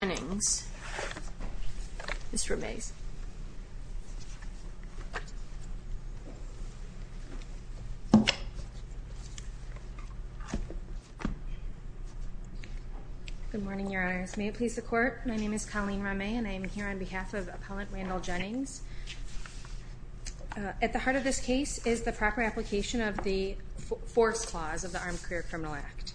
Good morning, Your Honors. May it please the Court, my name is Colleen Ramay and I am here on behalf of Appellant Randall Jennings. At the heart of this case is the proper application of the Force Clause of the Armed Career Criminal Act.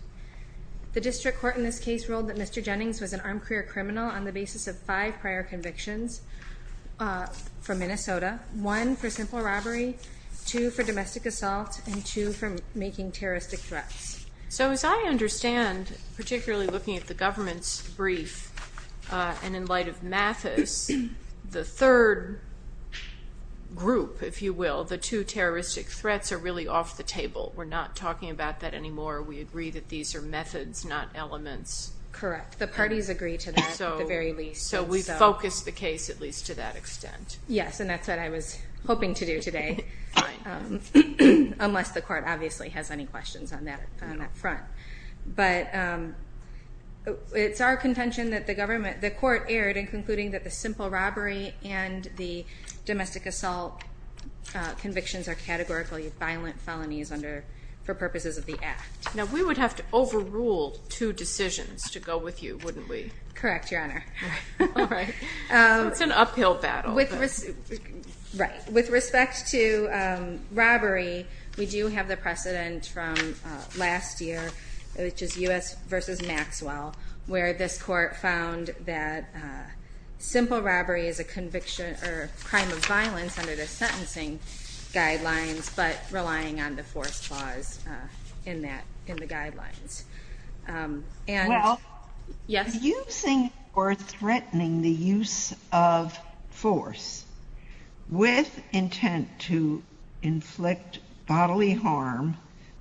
The District Court in this case ruled that Mr. Jennings was an armed career criminal on the basis of five prior convictions from Minnesota, one for simple robbery, two for domestic assault, and two for making terroristic threats. So as I understand, particularly looking at the government's brief and in light of Mathis, the third group, if you will, the two terroristic threats are really off the table. We're not talking about that anymore. We agree that these are methods, not elements Correct. The parties agree to that at the very least. So we focus the case at least to that extent. Yes, and that's what I was hoping to do today, unless the Court obviously has any questions on that front. But it's our contention that the Court erred in concluding that the simple robbery and the domestic assault convictions are categorically violent felonies for purposes of the Act. Now we would have to overrule two decisions to go with you, wouldn't we? Correct, Your Honor. It's an uphill battle. With respect to robbery, we do have the precedent from last year, which is U.S. v. Maxwell, where this Court found that simple robbery is a crime of violence under the sentencing guidelines, but relying on the force clause in the guidelines. Well, using or threatening the use of force with intent to inflict bodily harm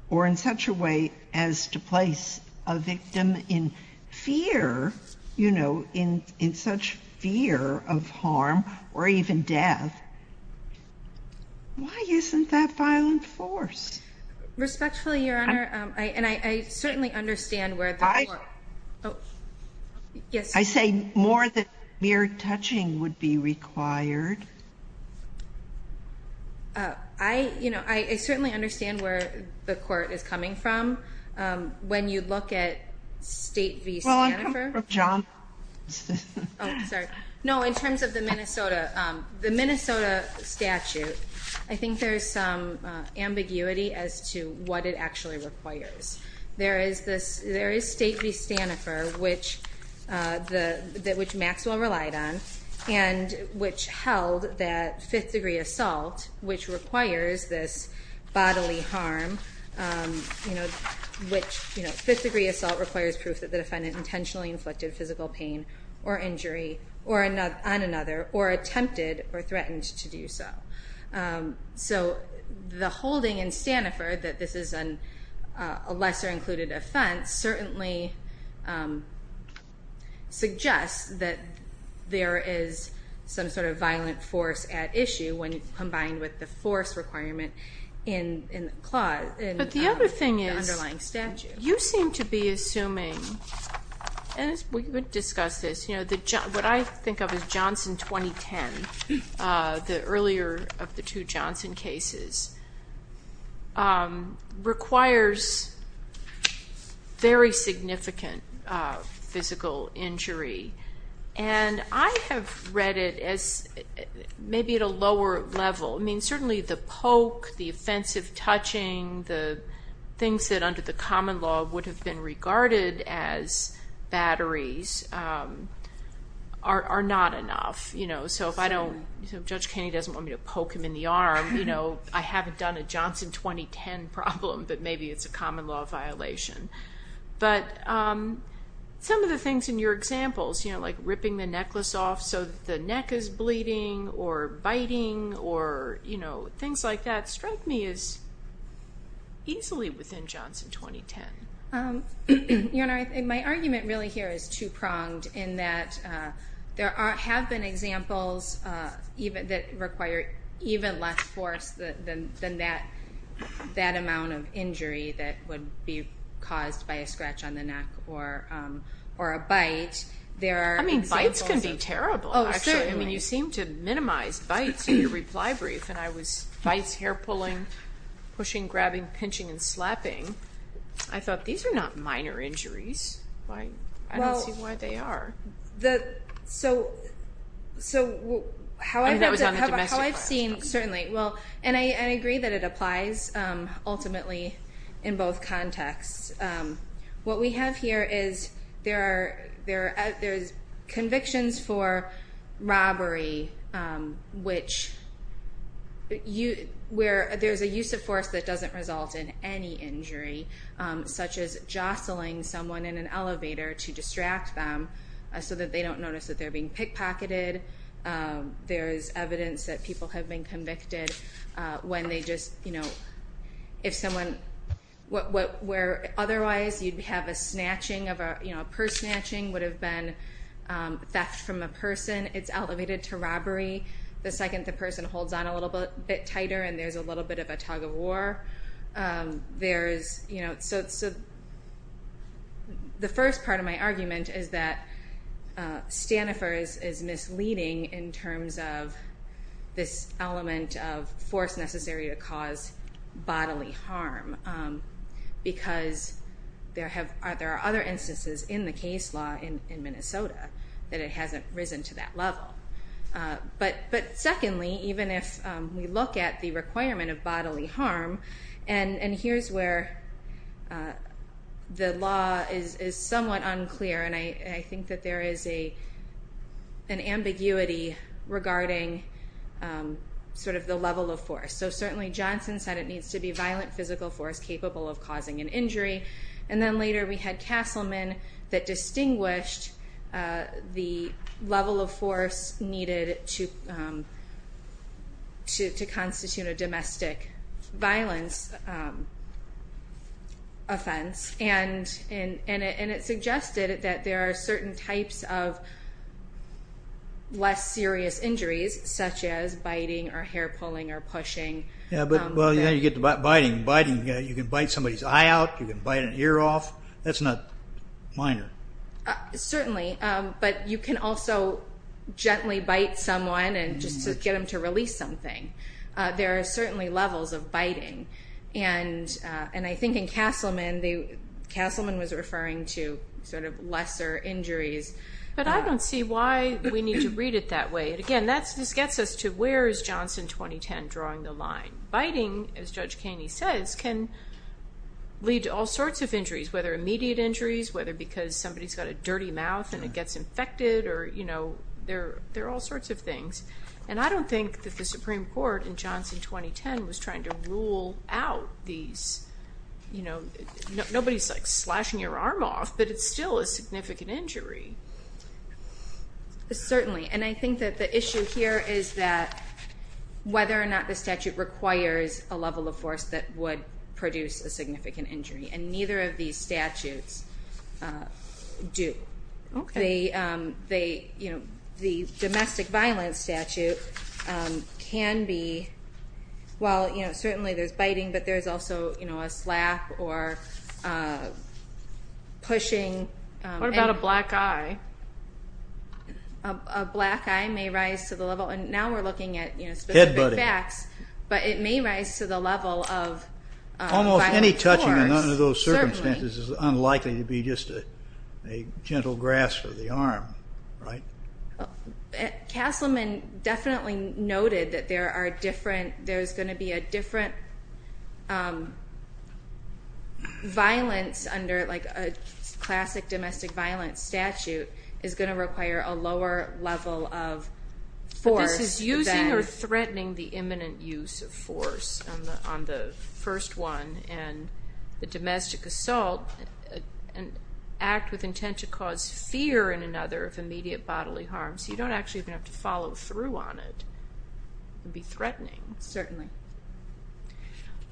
or in such a way as to place a victim in fear, you know, in such fear of harm or even death. Why isn't that violent force? Respectfully, Your Honor, and I certainly understand where the Court... I say more than mere touching would be required. I, you know, I certainly understand where the Court is coming from. When you look at State v. Stannifer... Well, I'm coming from John... Oh, sorry. No, in terms of the Minnesota statute, I think there's some ambiguity as to what it actually requires. There is State v. Stannifer, which Maxwell relied on and which held that fifth-degree assault, which requires this bodily harm, which fifth-degree assault requires proof that the defendant intentionally inflicted physical pain or injury on another or attempted or threatened to do so. So the holding in Stannifer that this is a lesser-included offense certainly suggests that there is some violent force at issue when combined with the force requirement in the underlying statute. But the other thing is you seem to be assuming, and we would discuss this, you know, what I think of as Johnson 2010, the earlier of the two Johnson cases, requires very significant physical injury. And I have read it as maybe at a lower level. I mean, certainly the poke, the offensive touching, the things that under the common law would have been regarded as batteries are not enough. You know, so if I don't... Judge Kenney doesn't want me to poke him in the arm, you know, I haven't done a Johnson 2010 problem, but maybe it's a common law violation. But some of the things in your examples, you know, like ripping the necklace off so the neck is bleeding or biting or, you know, things like that strike me as easily within Johnson 2010. Your Honor, my argument really here is two-pronged in that there have been examples that require even less force than that amount of injury that would be caused by a scratch on the neck or a bite. I mean, bites can be terrible, actually. I mean, you seem to minimize bites in your reply brief, and I was bites, hair pulling, pushing, grabbing, pinching, and slapping. I thought these are not minor injuries. I don't see why they are. Well, so how I've seen, certainly, well, and I agree that it applies ultimately in both contexts. What we have here is there's convictions for robbery, which you, where there's a use of force that doesn't result in any injury, such as jostling someone in an elevator to distract them so that they don't notice that they're being pickpocketed. There's evidence that people have been convicted when they just, you know, if someone, where otherwise you'd have a snatching of a, you know, a purse snatching would have been from a person, it's elevated to robbery. The second the person holds on a little bit tighter and there's a little bit of a tug of war, there's, you know, so the first part of my argument is that Stanifer's is misleading in terms of this element of force necessary to cause bodily harm, because there are other instances in the case law in Minnesota that it hasn't risen to that level. But secondly, even if we look at the requirement of bodily harm, and here's where the law is somewhat unclear, and I think that there is an ambiguity regarding sort of the level of force. So certainly Johnson said it needs to be violent physical force capable of causing an injury, and then later we had Castleman that distinguished the level of force needed to constitute a domestic violence offense, and it suggested that there are certain types of less serious injuries, such as biting or hair pulling or pushing. Yeah, but well, you know, you get the biting, biting, you can bite somebody's eye out, you can bite an ear off, that's not minor. Certainly, but you can also gently bite someone and just get them to release something. There are certainly levels of biting, and I think in Castleman, Castleman was referring to sort of lesser injuries. But I don't see why we need to read it that way. Again, this gets us to where is Johnson 2010 drawing the line? Biting, as Judge Kaney says, can lead to all sorts of injuries, whether immediate injuries, whether because somebody's got a dirty mouth and it gets infected, or you know, there are all sorts of things. And I don't think that the Supreme Court in Johnson 2010 was trying to rule out these, you know, nobody's like slashing your arm off, but it's still a significant injury. Certainly, and I think that the issue here is that whether or not the statute requires a level of force that would produce a significant injury, and neither of these statutes do. The domestic violence statute can be, well, you know, certainly there's biting, but there's also, you know, a slap or pushing. What about a black eye? A black eye may rise to the level, and now we're looking at specific facts, but it may rise to the level of violence. Almost any touching under those circumstances is unlikely to be just a gentle grasp of the arm, right? Castleman definitely noted that there are different, there's going to be a different violence under like a classic domestic violence statute is going to require a lower level of force. This is using or threatening the imminent use of force on the first one, and the domestic assault, an act with intent to cause fear in another of immediate bodily harm, so you don't actually have to follow through on it. It would be threatening. Certainly.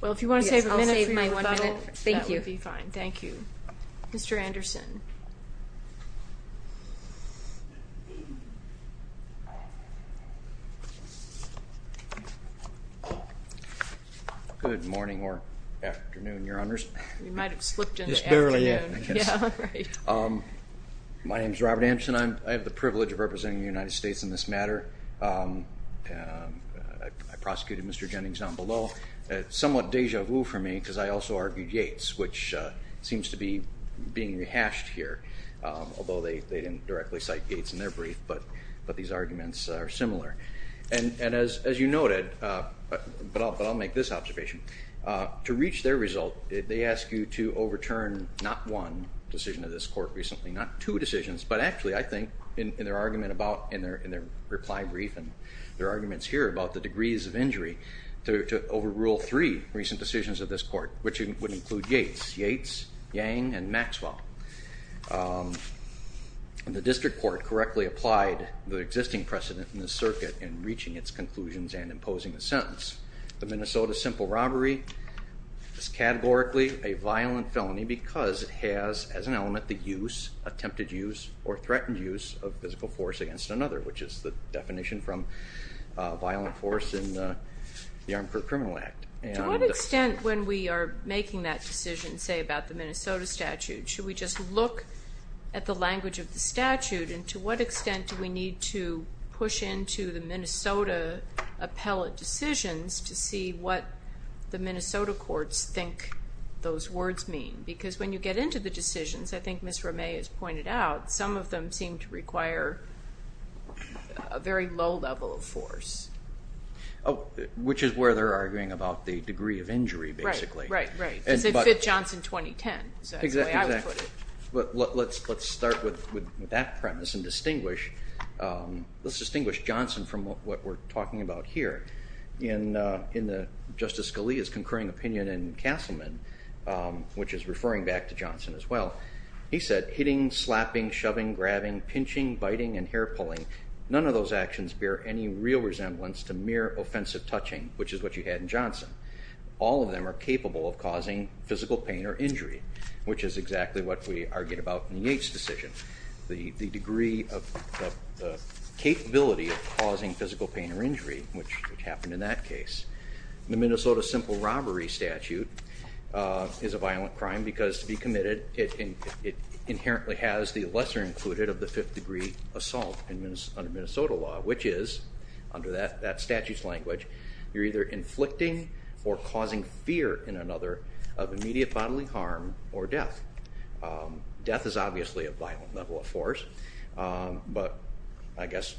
Well, if you want to save a minute for your rebuttal, that would be fine. Thank you. Mr. Anderson. Good morning or afternoon, Your Honors. You might have slipped into afternoon. Just barely, yeah. My name is Robert Anderson. I have the privilege of representing the United States in this matter. I prosecuted Mr. Jennings down below. It's somewhat deja vu for me, I also argued Yates, which seems to be being rehashed here, although they didn't directly cite Yates in their brief, but these arguments are similar. And as you noted, but I'll make this observation, to reach their result, they ask you to overturn not one decision of this court recently, not two decisions, but actually I think in their argument about, in their reply brief and their arguments here about the degrees of injury, to overrule three recent decisions of this court, which would include Yates, Yates, Yang, and Maxwell. The district court correctly applied the existing precedent in the circuit in reaching its conclusions and imposing the sentence. The Minnesota simple robbery is categorically a violent felony because it has, as an element, the use, attempted use, or threatened use of physical force against another, which is the violent force in the Armed Criminal Act. To what extent, when we are making that decision, say about the Minnesota statute, should we just look at the language of the statute, and to what extent do we need to push into the Minnesota appellate decisions to see what the Minnesota courts think those words mean? Because when you get into the decisions, I think Ms. Romay has pointed out, some of them seem to require a very low level of force. Oh, which is where they're arguing about the degree of injury, basically. Right, right, right. Because it fit Johnson 2010, so that's the way I would put it. But let's start with that premise and distinguish, let's distinguish Johnson from what we're talking about here. In Justice Scalia's concurring opinion in Castleman, which is referring back to Johnson as well, he said, hitting, slapping, shoving, grabbing, pinching, biting, and hair pulling, none of those actions bear any real resemblance to mere offensive touching, which is what you had in Johnson. All of them are capable of causing physical pain or injury, which is exactly what we argued about in the Yates decision. The degree of capability of causing physical pain or injury, which happened in that case. The Minnesota simple robbery statute is a violent crime because to be it inherently has the lesser included of the fifth degree assault under Minnesota law, which is, under that statute's language, you're either inflicting or causing fear in another of immediate bodily harm or death. Death is obviously a violent level of force, but I guess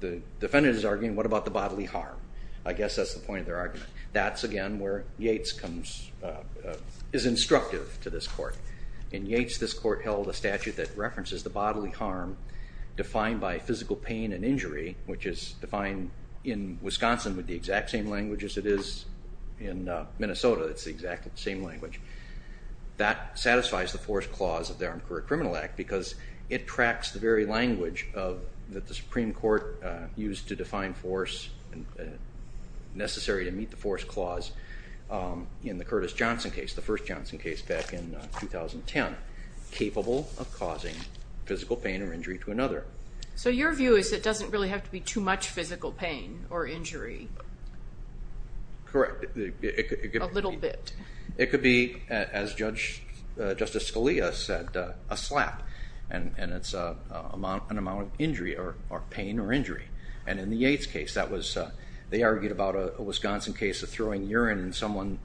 the defendant is arguing, what about the bodily harm? I guess that's the point of their argument. That's again where Yates is instructive to this court. In Yates, this court held a statute that references the bodily harm defined by physical pain and injury, which is defined in Wisconsin with the exact same language as it is in Minnesota. It's the exact same language. That satisfies the force clause of the Armed Career Criminal Act because it tracks the very language that the Supreme Court used to define force necessary to meet the force clause in the Curtis Johnson case, the first Johnson case back in 2010, capable of causing physical pain or injury to another. So your view is it doesn't really have to be too much physical pain or injury? Correct. A little bit. It could be, as Justice Scalia said, a slap and it's an amount of injury or pain or injury. And in the Yates case, that was, they argued about a Wisconsin case of throwing urine and someone,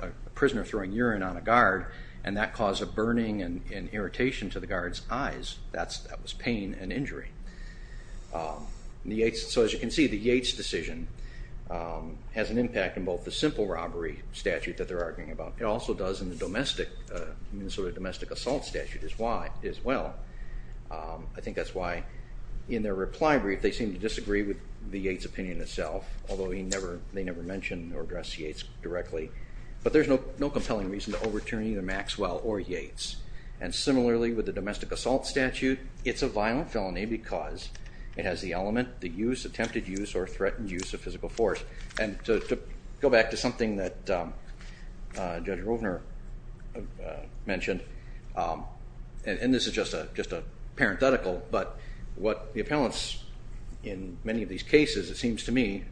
a prisoner throwing urine on a guard and that caused a burning and irritation to the guard's eyes. That was pain and injury. So as you can see, the Yates decision has an impact in both the simple robbery statute that they're arguing about, it also does in the domestic, Minnesota domestic assault statute as well. I think that's why in their reply brief they seem to disagree with the Yates opinion itself, although he never, they never mentioned or addressed Yates directly. But there's no compelling reason to overturn either Maxwell or Yates. And similarly with the domestic assault statute, it's a violent felony because it has the element, the use, attempted use or threatened use of physical force. And to go back to something that Judge Rovner mentioned, and this is just a parenthetical, but what the appellants in many of these cases, it seems to me,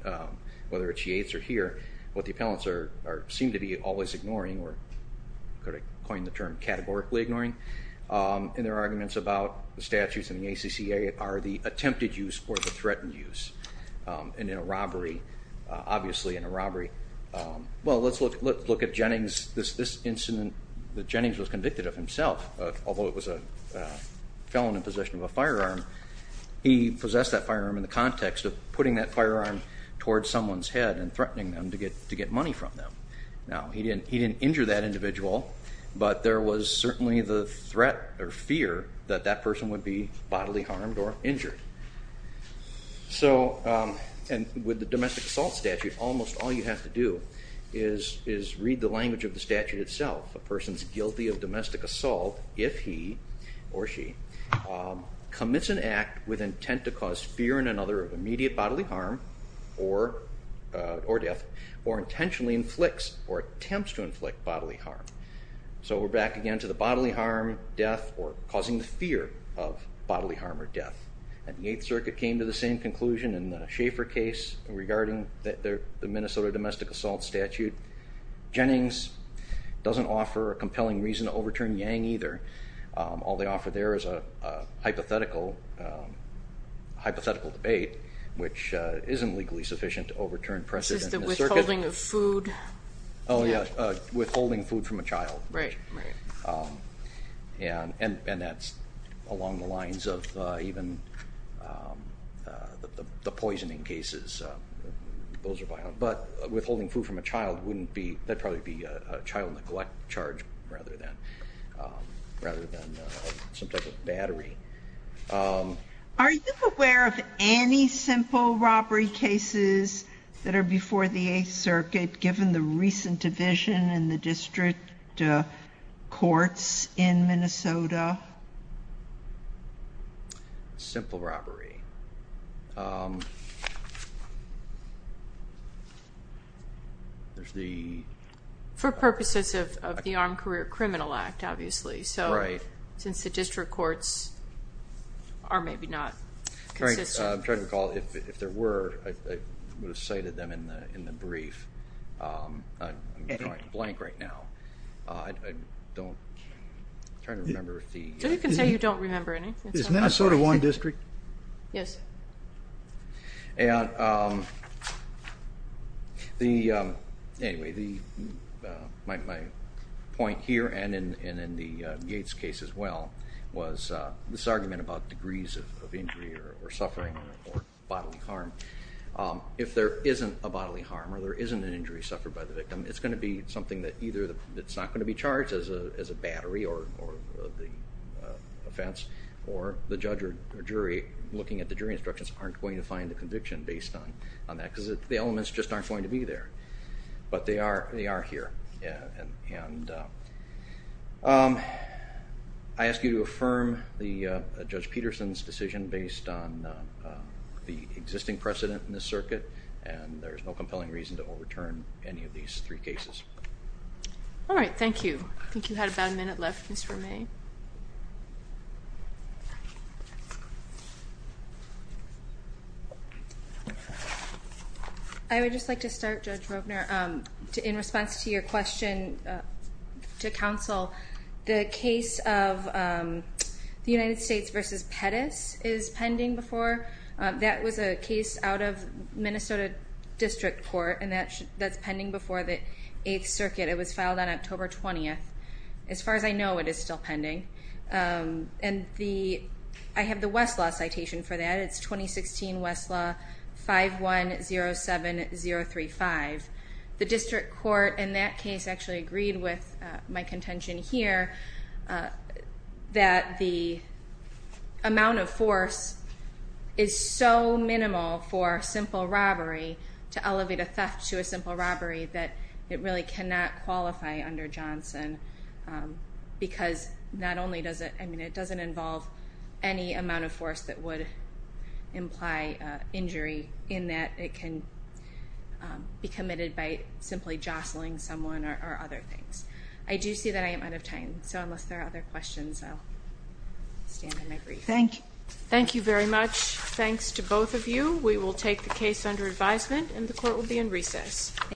whether it's Yates or here, what the appellants are, seem to be always ignoring, or I'm going to coin the term categorically ignoring, in their arguments about the statutes and the ACCA are the attempted use or the threatened use. And in a robbery, obviously in a robbery, well let's look at Jennings, this incident that Jennings was convicted of himself, although it was a felon in possession of a firearm, he possessed that firearm in the context of putting that firearm towards someone's head and threatening them to get money from them. Now he didn't injure that individual, but there was certainly the threat or fear that that person would be bodily harmed. So with the domestic assault statute, almost all you have to do is read the language of the statute itself. A person is guilty of domestic assault if he or she commits an act with intent to cause fear in another of immediate bodily harm or death, or intentionally inflicts or attempts to inflict bodily harm. So we're back again to the bodily harm, death, or causing the same conclusion in the Schaefer case regarding the Minnesota domestic assault statute. Jennings doesn't offer a compelling reason to overturn Yang either. All they offer there is a hypothetical debate, which isn't legally sufficient to overturn precedent in the circuit. Is it the withholding of food? Oh yeah, withholding food from a child. Right, right. And that's along the lines of even the poisoning cases. Those are violent, but withholding food from a child wouldn't be, that'd probably be a child neglect charge rather than some type of battery. Are you aware of any simple robbery cases that are before the 8th courts in Minnesota? Simple robbery. There's the... For purposes of the Armed Career Criminal Act, obviously, so since the district courts are maybe not consistent. I'm trying to recall if there were, I would have cited them in the brief. I'm drawing a blank right now. I don't, I'm trying to remember if the... So you can say you don't remember anything. Is Minnesota one district? Yes. Anyway, my point here and in the Yates case as well was this argument about degrees of injury or suffering or bodily harm. If there isn't a bodily harm or there isn't an injury suffered by the victim, it's going to be something that either it's not going to be charged as a battery or the offense or the judge or jury looking at the jury instructions aren't going to find the conviction based on that because the elements just aren't going to be there, but they are here. And I ask you to affirm the Judge Peterson's decision based on the existing precedent in the circuit, and there's no compelling reason to overturn any of these three cases. All right, thank you. I think you had about a minute left, Ms. Romay. I would just like to start, Judge Rogner, in response to your question to counsel, the case of the United States versus Pettis is pending before. That was a case out of Minnesota District Court, and that's pending before the Eighth Circuit. It was filed on October 20th. As far as I know, it is still pending. And I have the Westlaw citation for that. It's 2016 Westlaw 5107035. The District Court in that case actually agreed with my contention here that the amount of force is so minimal for simple robbery to elevate a theft to a simple robbery that it really cannot qualify under Johnson because not only does it, I mean, it doesn't involve any amount of force that would imply injury in that it can be committed by simply jostling someone or other things. I do see that I am out of time, so unless there are other questions, I'll stand in my brief. Thank you. Thank you very much. Thanks to both of you. We will take the case under advisement, and the Court will be in recess.